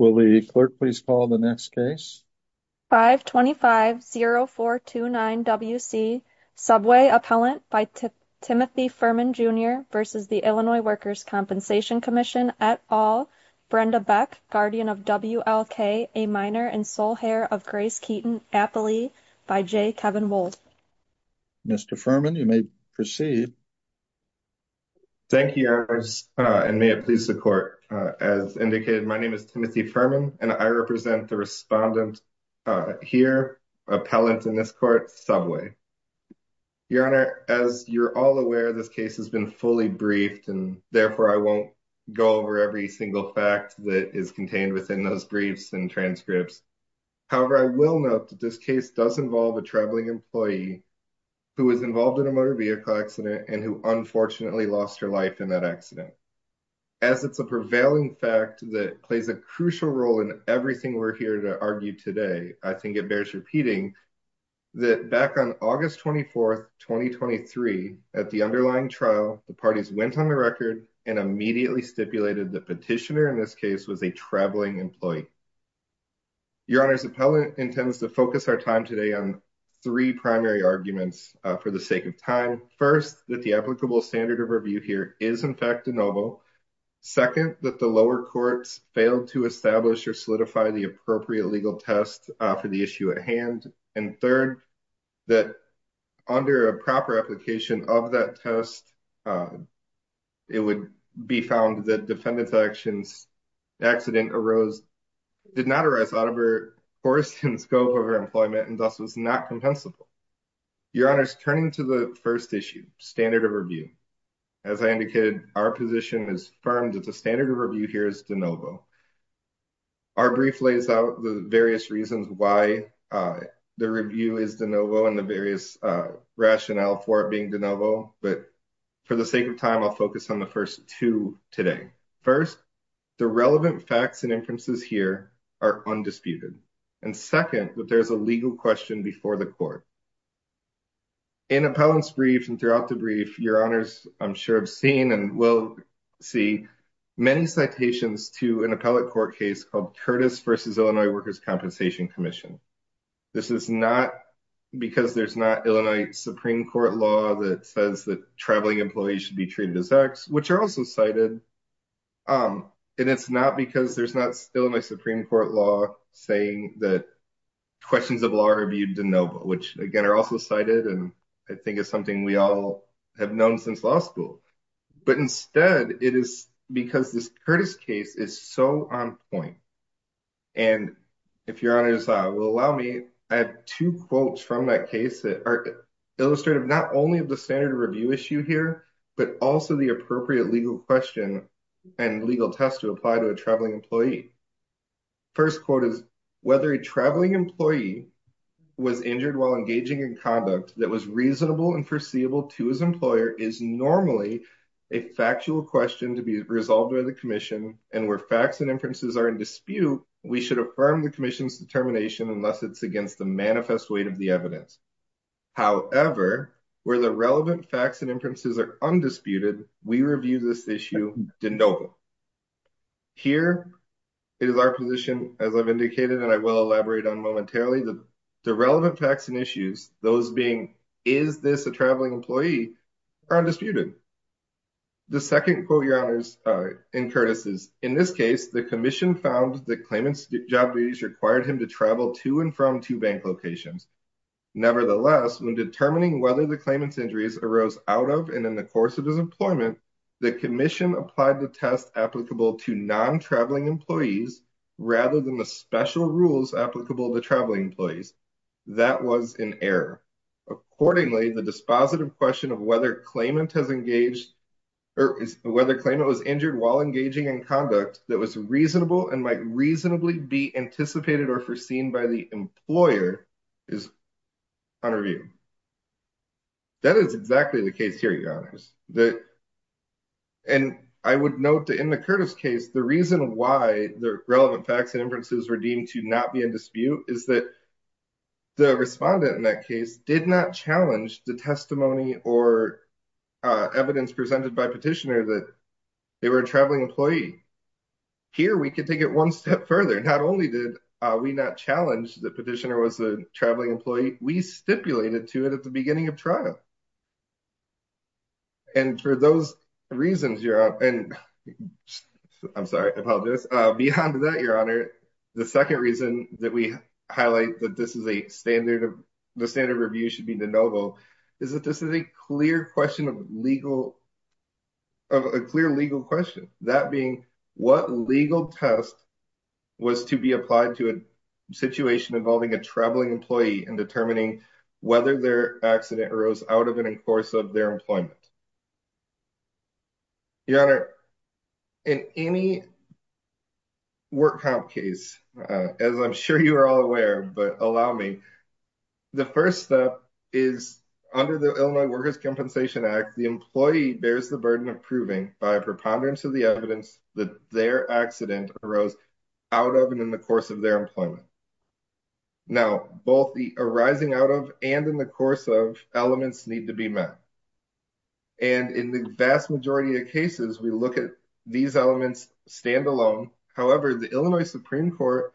at All, Brenda Beck, Guardian of WLK, A Minor, and Sole Heir of Grace Keaton, Appley, by J. Kevin Wold. Mr. Fuhrman, you may proceed. Thank you, and may it please the Court. As indicated, my name is Steve Fuhrman, and I represent the respondent here, appellant in this Court, Subway. Your Honor, as you're all aware, this case has been fully briefed, and therefore I won't go over every single fact that is contained within those briefs and transcripts. However, I will note that this case does involve a traveling employee who was involved in a motor vehicle accident and who unfortunately lost her life in that accident. As it's a prevailing fact that plays a crucial role in everything we're here to argue today, I think it bears repeating that back on August 24, 2023, at the underlying trial, the parties went on the record and immediately stipulated that the petitioner in this case was a traveling employee. Your Honor, as the appellant intends to focus our time today on three primary arguments for the sake of time. First, that the applicable standard of review here is, in fact, de novo. Second, that the lower courts failed to establish or solidify the appropriate legal test for the issue at hand. And third, that under a proper application of that test, it would be found that the defendant's actions accident arose, did not arise out of her course and scope of her employment, and thus was not compensable. Your Honor, turning to the first issue, standard of review, as I indicated, our position is firm that the standard of review here is de novo. Our brief lays out the various reasons why the review is de novo and the various rationale for it being de novo. But for the sake of time, I'll focus on the first two today. First, the relevant facts and inferences here are undisputed. And second, that there's a legal question before the court. In appellant's brief and throughout the brief, Your Honor's, I'm sure, have seen and will see many citations to an appellate court case called Curtis v. Illinois Workers' Compensation Commission. This is not because there's not Illinois Supreme Court law that says that traveling employees should be treated as X, which are also cited. And it's not because there's not Illinois Supreme Court law saying that questions of law are viewed de novo, which again are also cited and I think is something we all have known since law school. But instead, it is because this Curtis case is so on point. And if Your Honor's will allow me, I have two quotes from that case that are illustrative not only of the standard of review issue here, but also the appropriate legal question and legal test to apply to a traveling employee. First quote is, whether a traveling employee was injured while engaging in conduct that was reasonable and foreseeable to his employer is normally a factual question to be resolved by the commission and where facts and inferences are in dispute, we should affirm the commission's determination unless it's against the manifest weight of the evidence. However, where the relevant facts and inferences are undisputed, we review this issue de novo. Here, it is our position as I've indicated, and I will elaborate on momentarily the relevant facts and issues, those being, is this a traveling employee, are undisputed. The second quote Your Honor's in Curtis's, in this case, the commission found the claimant's job duties required him to travel to and from two bank locations. Nevertheless, when determining whether the claimant's injuries arose out of and in the course of his employment, the commission applied the test applicable to non-traveling employees, rather than the special rules applicable to traveling employees. That was an error. Accordingly, the dispositive question of whether claimant has engaged, or whether claimant was injured while engaging in conduct that was reasonable and might reasonably be anticipated or foreseen by the employer is under review. That is exactly the case here, Your Honors. And I would note that in the Curtis case, the reason why the relevant facts and inferences were deemed to not be in dispute is that the respondent in that case did not challenge the testimony or evidence presented by petitioner that they were a traveling employee. Here, we could take it one step further. Not only did we not challenge the petitioner was a traveling employee, we stipulated to it at the beginning of trial. And for those reasons, you're up and I'm sorry about this. Beyond that, Your Honor, the 2nd reason that we highlight that this is a standard of the standard review should be the novel is that this is a clear question of legal. A clear legal question, that being what legal test was to be applied to a situation involving a traveling employee and determining whether their accident arose out of it in course of their employment. Your Honor, in any work comp case, as I'm sure you are all aware, but allow me. The 1st step is under the Illinois Workers' Compensation Act, the employee bears the burden of proving by a preponderance of the evidence that their accident arose out of and in the course of their employment. Now, both the arising out of and in the course of elements need to be met. And in the vast majority of cases, we look at these elements stand alone. However, the Illinois Supreme Court.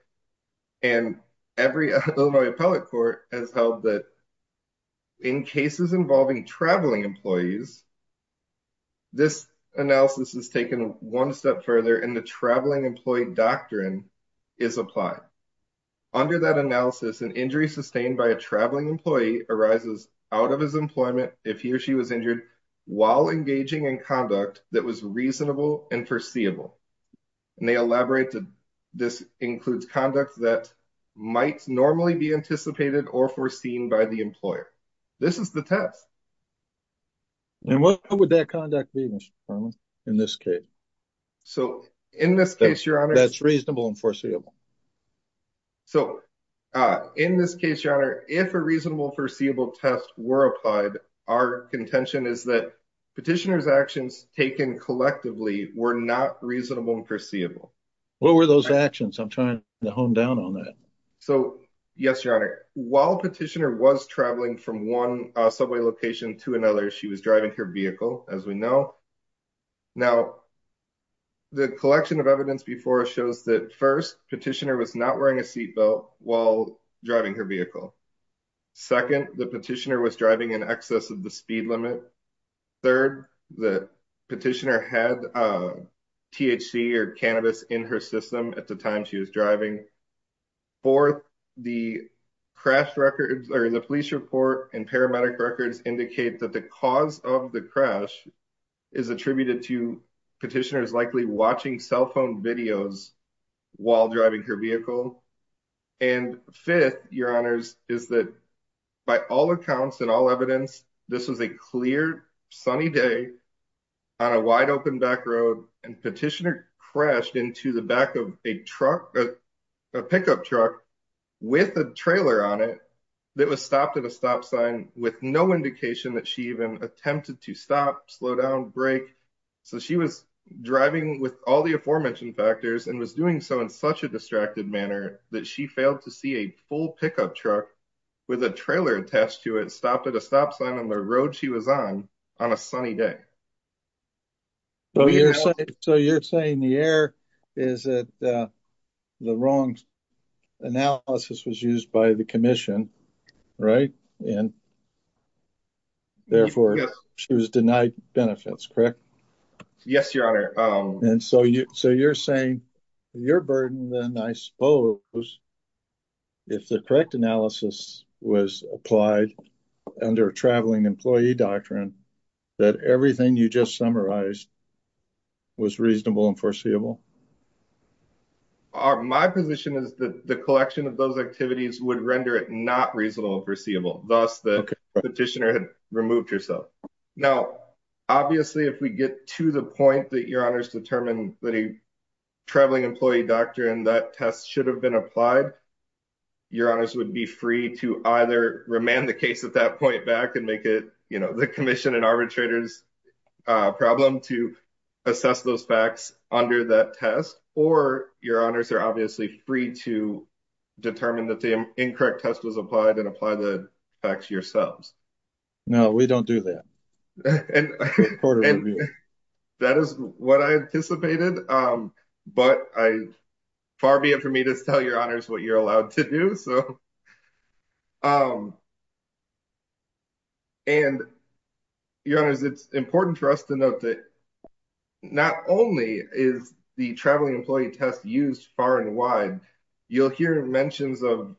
And every Illinois appellate court has held that. In cases involving traveling employees. This analysis is taken 1 step further in the traveling employee doctrine is applied. Under that analysis, an injury sustained by a traveling employee arises out of his employment. If he or she was injured while engaging in conduct that was reasonable and foreseeable. And they elaborate to this includes conduct that might normally be anticipated or foreseen by the employer. This is the test. And what would that conduct be in this case? So, in this case, your honor, that's reasonable and foreseeable. So, in this case, your honor, if a reasonable foreseeable test were applied, our contention is that petitioners actions taken collectively were not reasonable and foreseeable. What were those actions? I'm trying to hone down on that. So, yes, your honor, while petitioner was traveling from 1 subway location to another, she was driving her vehicle as we know. Now, the collection of evidence before shows that 1st petitioner was not wearing a seat belt while driving her vehicle. 2nd, the petitioner was driving in excess of the speed limit. 3rd, the petitioner had. THC or cannabis in her system at the time she was driving. 4th, the crash records, or the police report and paramedic records indicate that the cause of the crash. Is attributed to petitioners likely watching cell phone videos. While driving her vehicle and 5th, your honors is that. By all accounts and all evidence, this is a clear sunny day. On a wide open back road and petitioner crashed into the back of a truck. A pickup truck with a trailer on it. That was stopped at a stop sign with no indication that she even attempted to stop slow down break. So she was driving with all the aforementioned factors and was doing so in such a distracted manner that she failed to see a full pickup truck. With a trailer attached to it stopped at a stop sign on the road. She was on on a sunny day. So, you're saying the air is that. The wrong analysis was used by the commission. Right and therefore she was denied benefits. Correct. Yes, your honor and so you're saying. Your burden, then I suppose if the correct analysis was applied. Under a traveling employee doctrine that everything you just summarized. Was reasonable and foreseeable are my position is that the collection of those activities would render it not reasonable foreseeable. Thus, the petitioner had removed yourself. Now, obviously, if we get to the point that your honors determine that. Traveling employee doctor, and that test should have been applied. Your honors would be free to either remand the case at that point back and make it, you know, the commission and arbitrators problem to. Assess those facts under that test, or your honors are obviously free to. Determine that the incorrect test was applied and apply the facts yourselves. No, we don't do that and that is what I anticipated. But I far be it for me to tell your honors what you're allowed to do. So. And your honors, it's important for us to note that. Not only is the traveling employee test used far and wide. You'll hear mentions of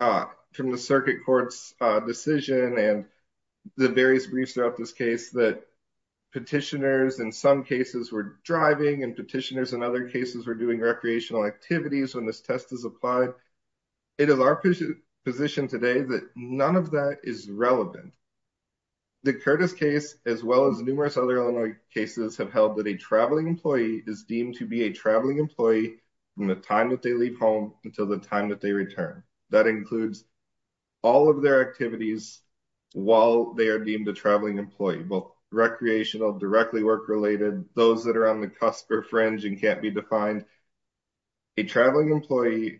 from the circuit courts decision and. The various briefs throughout this case that. Petitioners in some cases, we're driving and petitioners and other cases. We're doing recreational activities when this test is applied. It is our position today that none of that is relevant. The Curtis case as well as numerous other cases have held that a traveling employee is deemed to be a traveling employee. From the time that they leave home until the time that they return. That includes all of their activities. While they are deemed a traveling employee, both recreational directly work related. Those that are on the cusp or fringe and can't be defined. A traveling employee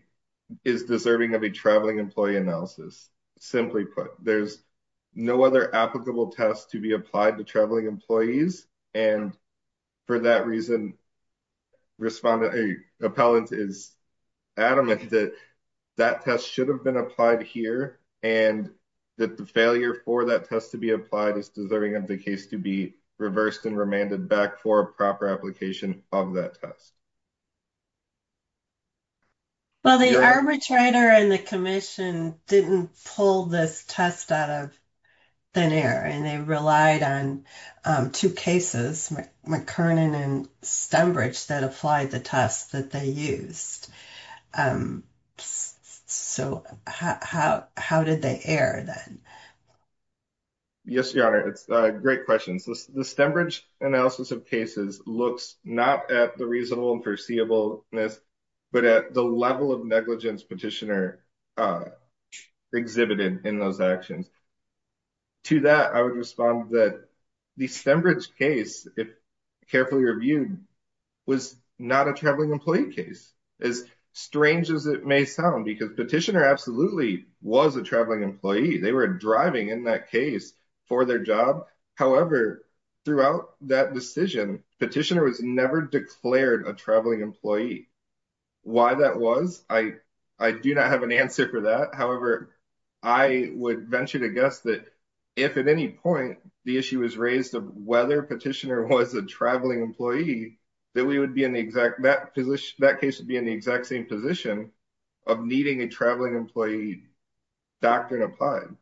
is deserving of a traveling employee analysis. Simply put, there's no other applicable test to be applied to traveling employees. And for that reason. Respond to a appellant is adamant that. That test should have been applied here and. That the failure for that test to be applied is deserving of the case to be. Reversed and remanded back for a proper application of that test. Well, the arbitrator and the commission didn't pull this test out of. Then air and they relied on 2 cases. McKernan and stem bridge that applied the test that they used. Um, so how how did they air then? Yes, your honor. It's a great question. So the stem bridge analysis of cases looks not at the reasonable and foreseeable. But at the level of negligence petitioner. Exhibited in those actions. To that, I would respond that the stem bridge case. Carefully reviewed was not a traveling employee case. As strange as it may sound, because petitioner absolutely was a traveling employee. They were driving in that case for their job. However, throughout that decision petitioner was never declared a traveling employee. Why that was, I, I do not have an answer for that. However, I would venture to guess that. If at any point the issue is raised of whether petitioner was a traveling employee. That we would be in the exact position that case would be in the exact same position. Of needing a traveling employee. Doctrine applied.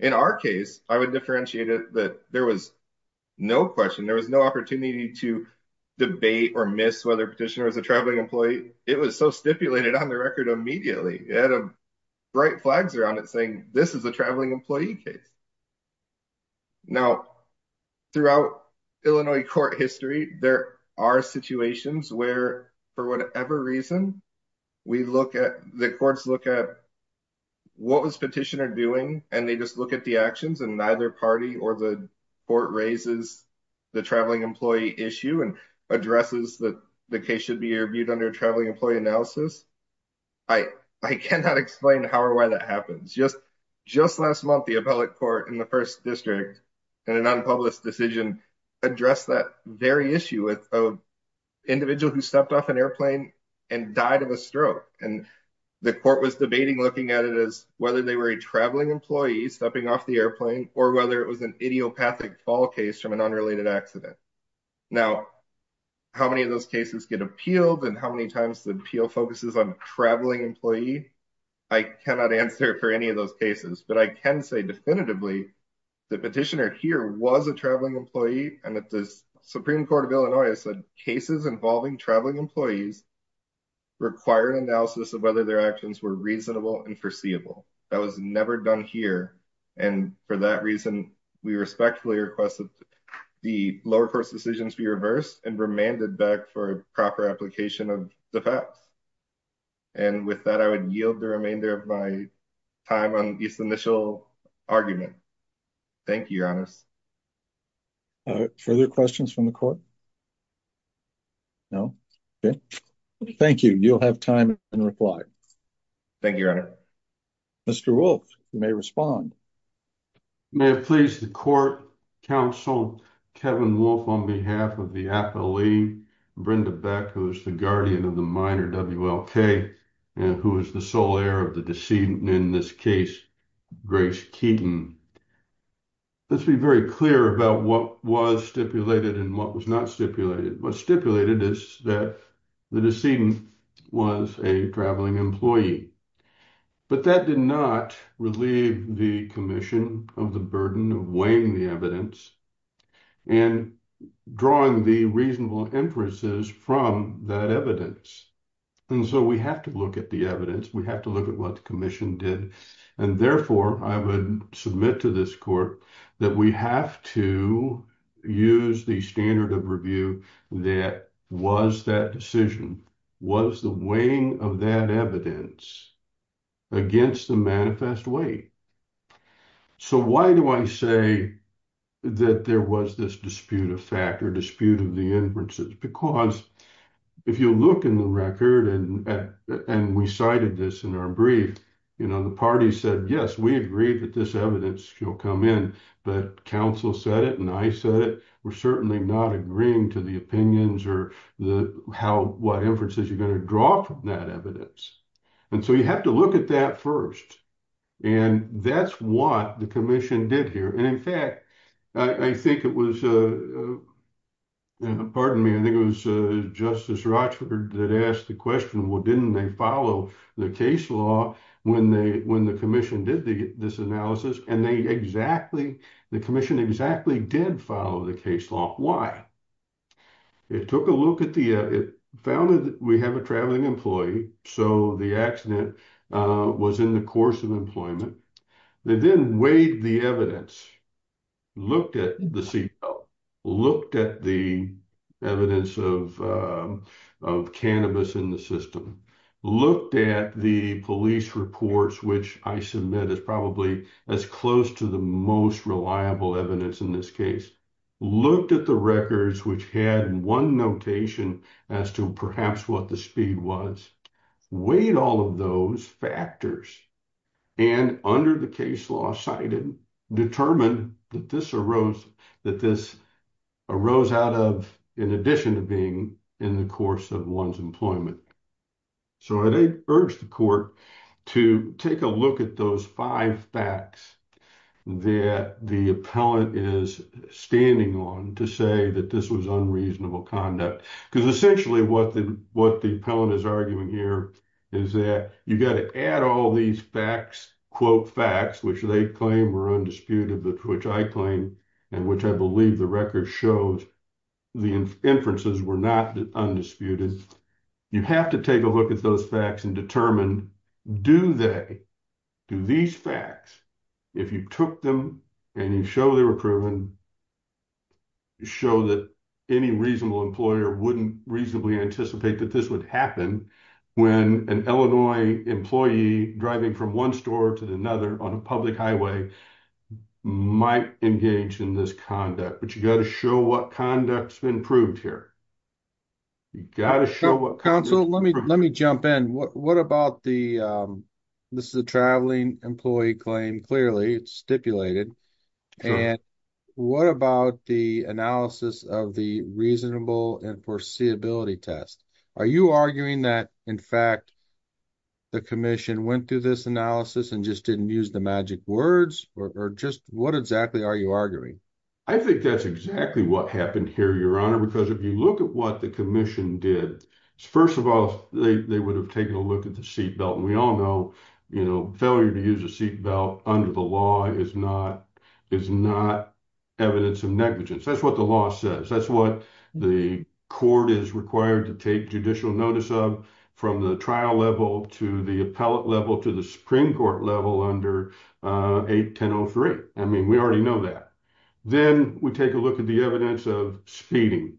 In our case, I would differentiate it that there was. No question there was no opportunity to. Debate or miss whether petitioner is a traveling employee. It was so stipulated on the record immediately at a. Bright flags around it saying this is a traveling employee case. Now, throughout Illinois court history, there are situations where. For whatever reason, we look at the courts look at. What was petitioner doing and they just look at the actions and neither party or the. Court raises the traveling employee issue and. Addresses that the case should be reviewed under traveling employee analysis. I, I cannot explain how or why that happens just. Just last month, the appellate court in the 1st district. And an unpublished decision address that very issue with. Individual who stepped off an airplane and died of a stroke and. The court was debating looking at it as whether they were a traveling employee stepping off the airplane, or whether it was an idiopathic fall case from an unrelated accident. Now, how many of those cases get appealed? And how many times the appeal focuses on traveling employee? I cannot answer for any of those cases, but I can say definitively. The petitioner here was a traveling employee and at this Supreme Court of Illinois said cases involving traveling employees. Require analysis of whether their actions were reasonable and foreseeable. That was never done here. And for that reason, we respectfully requested. The lower court's decisions be reversed and remanded back for proper application of the facts. And with that, I would yield the remainder of my time on this initial argument. Thank you. Further questions from the court. No, thank you. You'll have time and reply. Thank you. Mr. Wolf, you may respond. I may have pleased the court counsel, Kevin Wolf, on behalf of the appellee, Brenda Beck, who is the guardian of the minor WLK, and who is the sole heir of the decedent in this case, Grace Keaton. Let's be very clear about what was stipulated and what was not stipulated. What's stipulated is that the decedent was a traveling employee. But that did not relieve the commission of the burden of weighing the evidence and drawing the reasonable inferences from that evidence. And so we have to look at the evidence. We have to look at what the commission did. And therefore, I would submit to this court that we have to use the standard of review that was that decision, was the weighing of that evidence against the manifest weight. So why do I say that there was this dispute of fact or dispute of the inferences? Because if you look in the record, and we cited this in our brief, you know, the party said, yes, we agree that this evidence will come in. But counsel said it and I said it. We're certainly not agreeing to the opinions or how, what inferences you're going to draw from that evidence. And so you have to look at that first. And that's what the commission did here. And in fact, I think it was, pardon me, I think it was Justice Rochford that asked the question, well, didn't they follow the case law when the commission did this analysis? And they exactly, the commission exactly did follow the case law, why? It took a look at the, it found that we have a traveling employee. So the accident was in the course of employment. They then weighed the evidence, looked at the CBO, looked at the evidence of cannabis in the system, looked at the police reports, which I submit as probably as close to the most reliable evidence in this case, looked at the records, which had one notation as to perhaps what the speed was, weighed all of those factors, and under the case law cited, determined that this arose, that this arose out of, in addition to being in the course of one's employment. So I urge the court to take a look at those five facts that the appellant is standing on to say that this was unreasonable conduct. Because essentially what the appellant is arguing here is that you got to add all these facts, quote facts, which they claim were undisputed, which I claim, and which I believe the record shows the inferences were not undisputed. You have to take a look at those facts and determine, do they, do these facts, if you took them and you show they were proven, show that any reasonable employer wouldn't reasonably anticipate that this would happen when an Illinois employee driving from one store to another on a public highway might engage in this conduct. But you got to show what conduct's been proved here. You got to show what- Counsel, let me, let me jump in. What about the, this is a traveling employee claim, clearly it's stipulated. And what about the analysis of the reasonable and foreseeability test? Are you arguing that, in fact, the commission went through this analysis and just didn't use the magic words? Or just what exactly are you arguing? I think that's exactly what happened here, Your Honor. Because if you look at what the commission did, first of all, they would have taken a look at the seatbelt. And we all know, you know, failure to use a seatbelt under the law is not, is not evidence of negligence. That's what the law says. That's what the court is required to take judicial notice of from the trial level to the appellate level to the Supreme Court level under 81003. I mean, we already know that. Then we take a look at the evidence of speeding.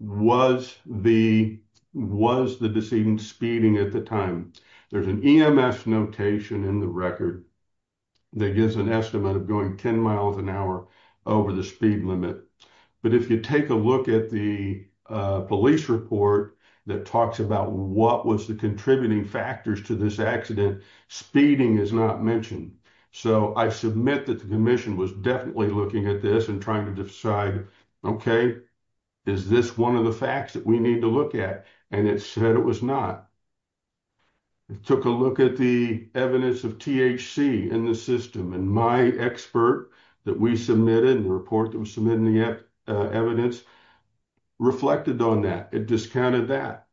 Was the, was the decedent speeding at the time? There's an EMS notation in the record that gives an estimate of going 10 miles an hour over the speed limit. But if you take a look at the police report that talks about what was the contributing factors to this accident, speeding is not mentioned. So I submit that the commission was definitely looking at this and trying to decide, okay, is this one of the facts that we need to look at? And it said it was not. It took a look at the evidence of THC in the system. And my expert that we submitted in the report that was submitting the evidence reflected on that. It discounted that.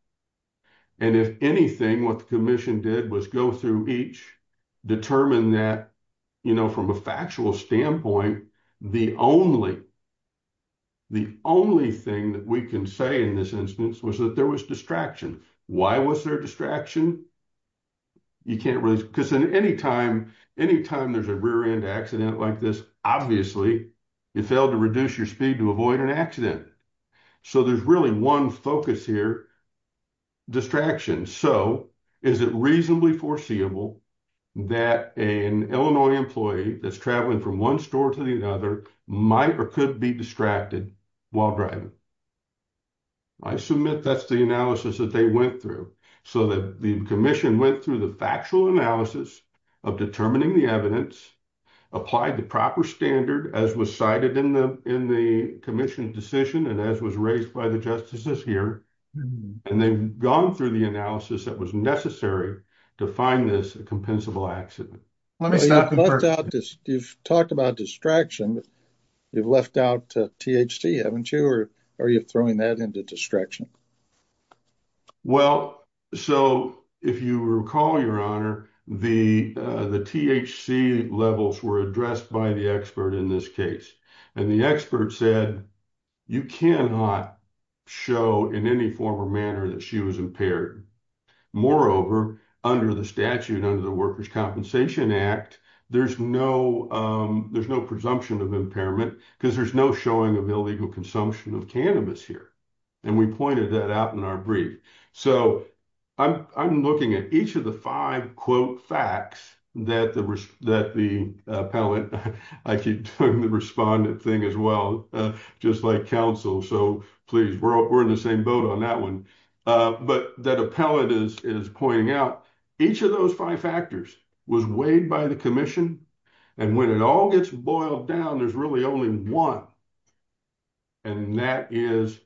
And if anything, what the commission did was go through each, determine that, you know, from a factual standpoint, the only, the only thing that we can say in this instance was that there was distraction. Why was there distraction? You can't really, because in any time, any time there's a rear end accident like this, obviously, you failed to reduce your speed to avoid an accident. So there's really one focus here, distraction. So is it reasonably foreseeable that an Illinois employee that's traveling from one store to the other might or could be distracted while driving? I submit that's the analysis that they went through. So the commission went through the factual analysis of determining the evidence, applied the proper standard as was cited in the commission's decision and as was raised by the justices here. And they've gone through the analysis that was necessary to find this a compensable accident. You've talked about distraction. You've left out THC, haven't you? Or are you throwing that into distraction? Well, so if you recall, your honor, the THC levels were addressed by the expert in this case. And the expert said, you cannot show in any form or manner that she was impaired. Moreover, under the statute, under the Workers' Compensation Act, there's no presumption of impairment because there's no showing of illegal consumption of cannabis here. And we pointed that out in our brief. So I'm looking at each of the five quote facts that the appellant, I keep doing the respondent thing as well, just like counsel. So please, we're in the same boat on that one. But that appellant is pointing out each of those five factors was weighed by the commission. And when it all gets boiled down, there's really only one. And that is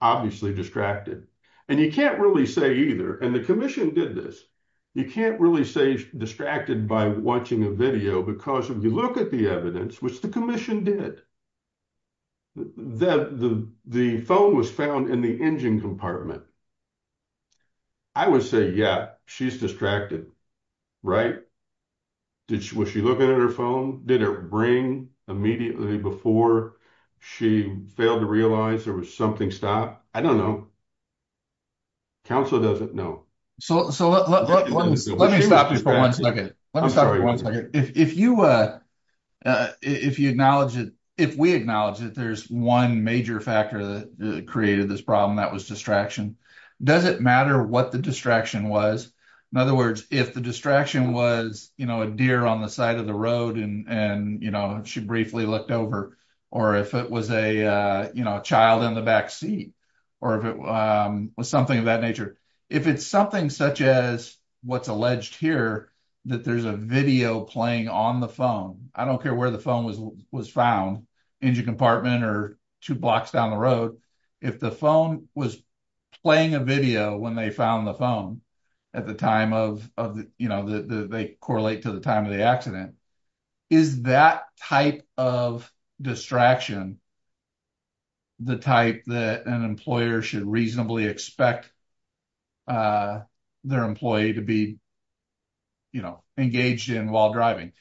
obviously distracted. And you can't really say either. And the commission did this. You can't really say distracted by watching a video because if you look at the evidence, which the commission did, the phone was found in the engine compartment. I would say, yeah, she's distracted, right? Was she looking at her phone? Did it ring immediately before she failed to realize there was something stopped? I don't know. Counsel doesn't know. So let me stop you for one second. Let me stop you for one second. If you acknowledge it, if we acknowledge it, there's one major factor that created this problem, that was distraction. Does it matter what the distraction was? In other words, if the distraction was a deer on the side of the road and she briefly looked over, or if it was a child in the back seat, or if it was something of that nature, if it's something such as what's alleged here, that there's a video playing on the phone, I don't care where the phone was found, engine compartment or two blocks down the road. If the phone was playing a video when they found the phone at the time of, they correlate to the time of the accident, is that type of distraction, the type that an employer should reasonably expect their employee to be engaged in while driving.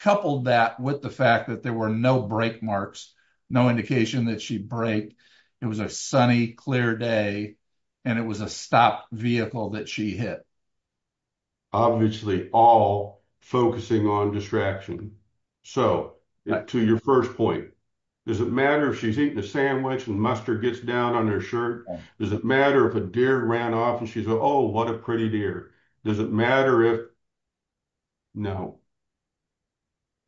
Coupled that with the fact that there were no brake marks, no indication that she'd brake, it was a sunny, clear day, and it was a stopped vehicle that she hit. Obviously all focusing on distraction. So to your first point, does it matter if she's eating a sandwich and mustard gets down on her shirt? Does it matter if a deer ran off and she said, oh, what a pretty deer? Does it matter if, no.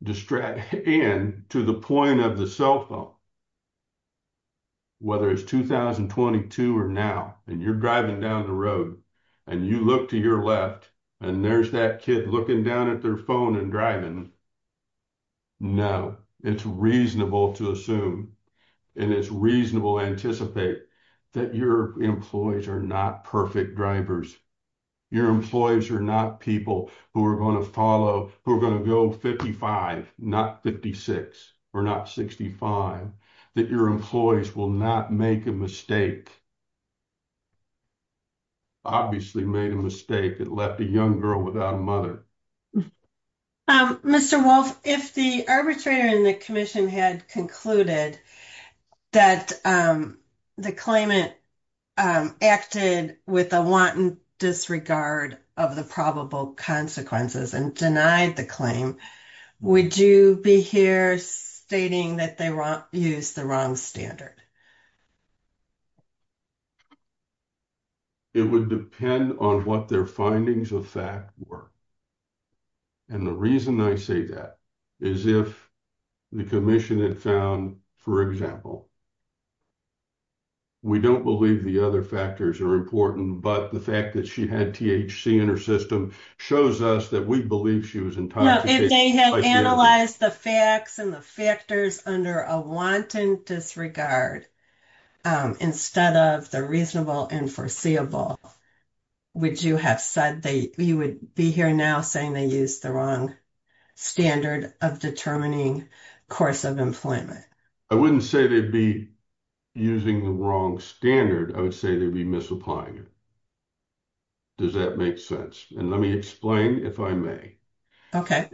Distraction to the point of the cell phone, whether it's 2022 or now, and you're driving down the road, and you look to your left, and there's that kid looking down at their phone and driving. No, it's reasonable to assume, and it's reasonable anticipate that your employees are not perfect drivers. Your employees are not people who are going to follow, who are going to go 55, not 56, or not 65, that your employees will not make a mistake. Obviously made a mistake that left a young girl without a mother. Um, Mr. Wolf, if the arbitrator in the commission had concluded that the claimant acted with a wanton disregard of the probable consequences and denied the claim, would you be here stating that they used the wrong standard? It would depend on what their findings of fact were. And the reason I say that is if the commission had found, for example, we don't believe the other factors are important, but the fact that she had THC in her system shows us that we believe she was intoxicated. If they had analyzed the facts and the factors under a wanton disregard instead of the reasonable and foreseeable, would you have said that you would be here now saying they used the wrong standard of determining course of employment? I wouldn't say they'd be using the wrong standard. I would say they'd be misapplying it. Does that make sense? And let me explain if I may. Okay.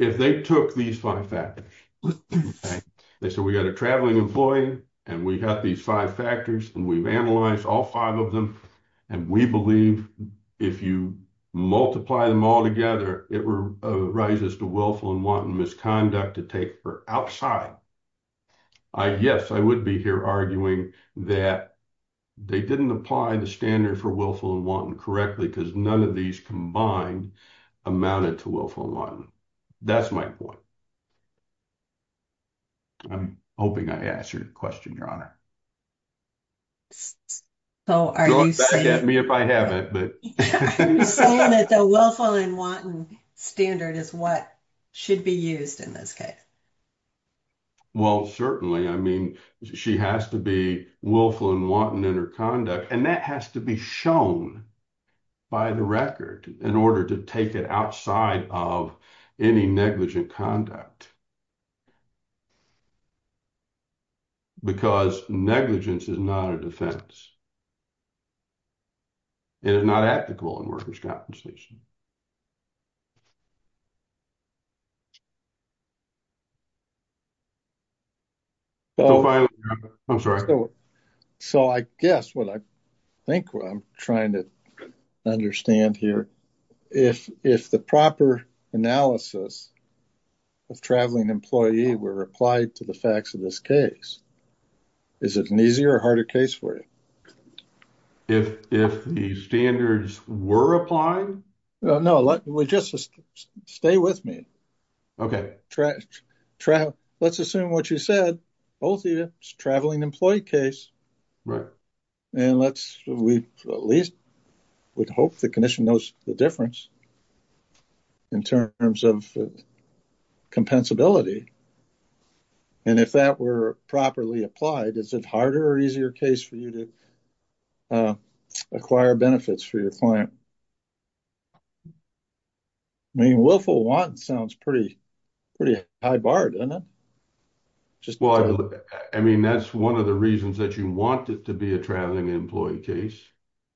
If they took these five factors, they said we got a traveling employee and we got these five factors and we've analyzed all five of them. And we believe if you multiply them all together, it arises to willful and wanton misconduct to take her outside. Yes, I would be here arguing that they didn't apply the standard for willful and wanton correctly because none of these combined amounted to willful and wanton. That's my point. I'm hoping I answered your question, Your Honor. So are you saying... Look back at me if I haven't, but... I'm saying that the willful and wanton standard is what should be used in this case. Well, certainly. I mean, she has to be willful and wanton in her conduct and that has to be shown by the record in order to take it outside of any negligent conduct. Because negligence is not a defense. It is not ethical in workers' compensation. I'm sorry. So I guess what I think what I'm trying to understand here, if the proper analysis of traveling employees were applied to the facts of this case, is it an easier or harder case for you? If the standards were applied? No, just stay with me. Okay. Let's assume what you said, both of you, it's a traveling employee case. Right. And let's, we at least would hope the condition knows the difference in terms of compensability. And if that were properly applied, is it harder or easier case for you to acquire benefits for your client? I mean, willful wanton sounds pretty high bar, doesn't it? Well, I mean, that's one of the reasons that you want it to be a traveling employee case.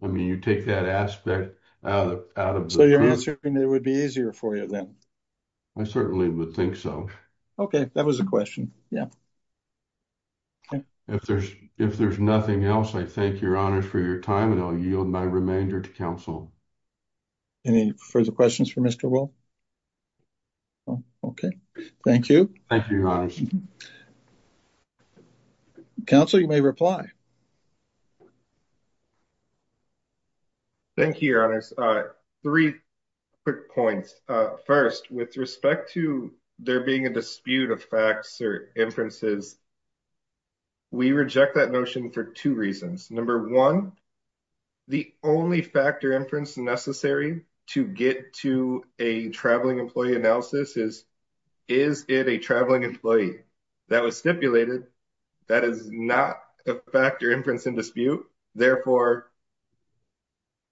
I mean, you take that aspect out of the... And it would be easier for you then? I certainly would think so. Okay. That was a question. Yeah. If there's nothing else, I thank your honors for your time and I'll yield my remainder to counsel. Any further questions for Mr. Will? Okay. Thank you. Thank you, your honors. Counsel, you may reply. Thank you, your honors. Three quick points. First, with respect to there being a dispute of facts or inferences, we reject that notion for two reasons. Number one, the only factor inference necessary to get to a traveling employee analysis is, is it a traveling employee? That was stipulated. That is not a factor inference in dispute. Therefore,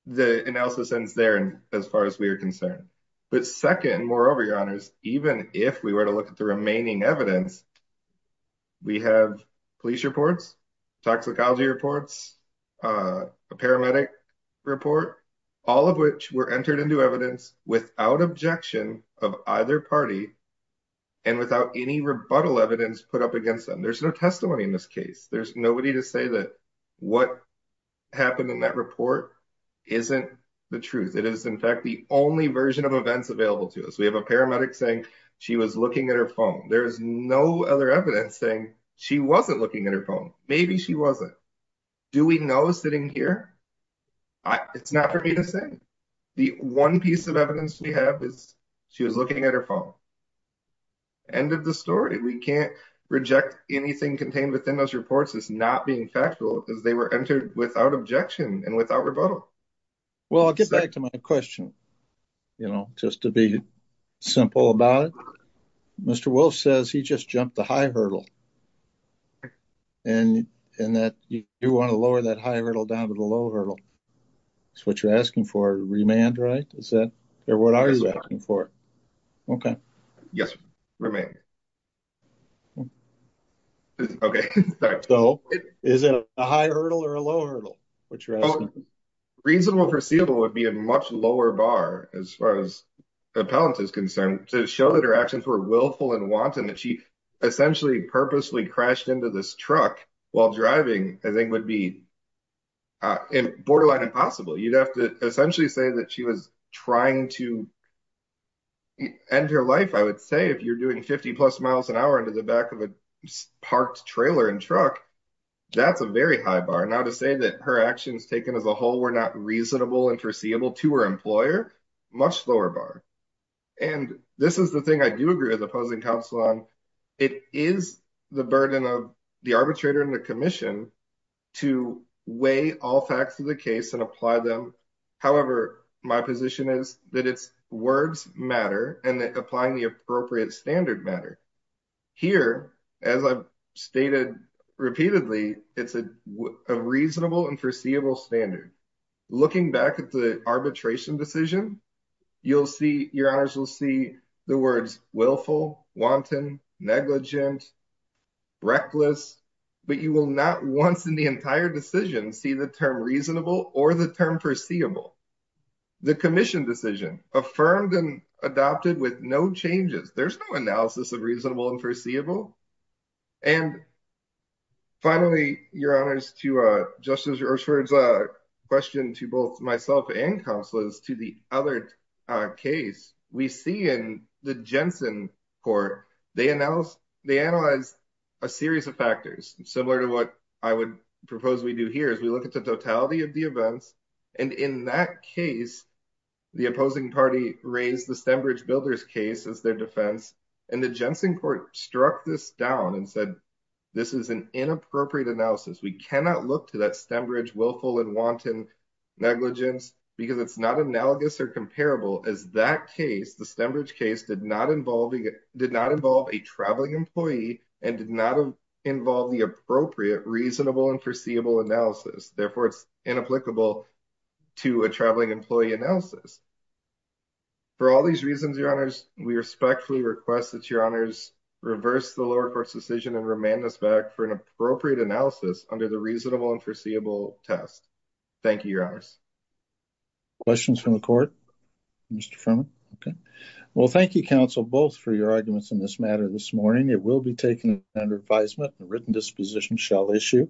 the analysis ends there as far as we are concerned. But second, moreover, your honors, even if we were to look at the remaining evidence, we have police reports, toxicology reports, a paramedic report, all of which were entered into evidence without objection of either party and without any rebuttal evidence put up against them. There's no testimony in this case. There's nobody to say that what happened in that report isn't the truth. It is, in fact, the only version of events available to us. We have a paramedic saying she was looking at her phone. There's no other evidence saying she wasn't looking at her phone. Maybe she wasn't. Do we know sitting here? It's not for me to say. The one piece of evidence we have is she was looking at her phone. End of the story. We can't reject anything contained within those reports as not being factual because they were entered without objection and without rebuttal. Well, I'll get back to my question, you know, just to be simple about it. Mr. Wolf says he just jumped the high hurdle and that you want to lower that high hurdle down to the low hurdle. That's what you're asking for, remand, right? Or what are you asking for? Okay. Yes, remand. Okay. Is it a high hurdle or a low hurdle? What you're asking. Reasonable, foreseeable would be a much lower bar as far as appellant is concerned to show that her actions were willful and wanton that she essentially purposely crashed into this truck while driving, I think would be borderline impossible. You'd have to essentially say that she was trying to end her life, I would say, if you're doing 50 plus miles an hour into the back of a parked trailer and truck, that's a very high bar. Now to say that her actions taken as a whole were not reasonable and foreseeable to her employer, much lower bar. And this is the thing I do agree with opposing counsel on. It is the burden of the arbitrator and the commission to weigh all facts of the case and apply them. However, my position is that it's words matter and applying the appropriate standard matter. Here, as I've stated repeatedly, it's a reasonable and foreseeable standard. Looking back at the arbitration decision, you'll see, your honors will see the words willful, wanton, negligent, reckless, but you will not once in the entire decision see the term reasonable or the term foreseeable. The commission decision affirmed and adopted with no changes. There's no analysis of reasonable and foreseeable. And finally, your honors, to Justice Ershford's question to both myself and counselors to the other case, we see in the Jensen court, they analyzed a series of factors, similar to what I would propose we do here, is we look at the totality of the events. And in that case, the opposing party raised the Stembridge Builders case as their defense. And the Jensen court struck this down and said, this is an inappropriate analysis. We cannot look to that Stembridge willful and wanton negligence because it's not analogous or comparable as that case, the Stembridge case did not involve a traveling employee and did not involve the appropriate, reasonable and foreseeable analysis. Therefore it's inapplicable to a traveling employee analysis. For all these reasons, your honors, we respectfully request that your honors reverse the lower court's decision and remand us back for an appropriate analysis under the reasonable and foreseeable test. Thank you, your honors. Questions from the court, Mr. Furman? Okay. Well, thank you, counsel, both for your arguments in this matter this morning. It will be taken under advisement and written disposition shall issue.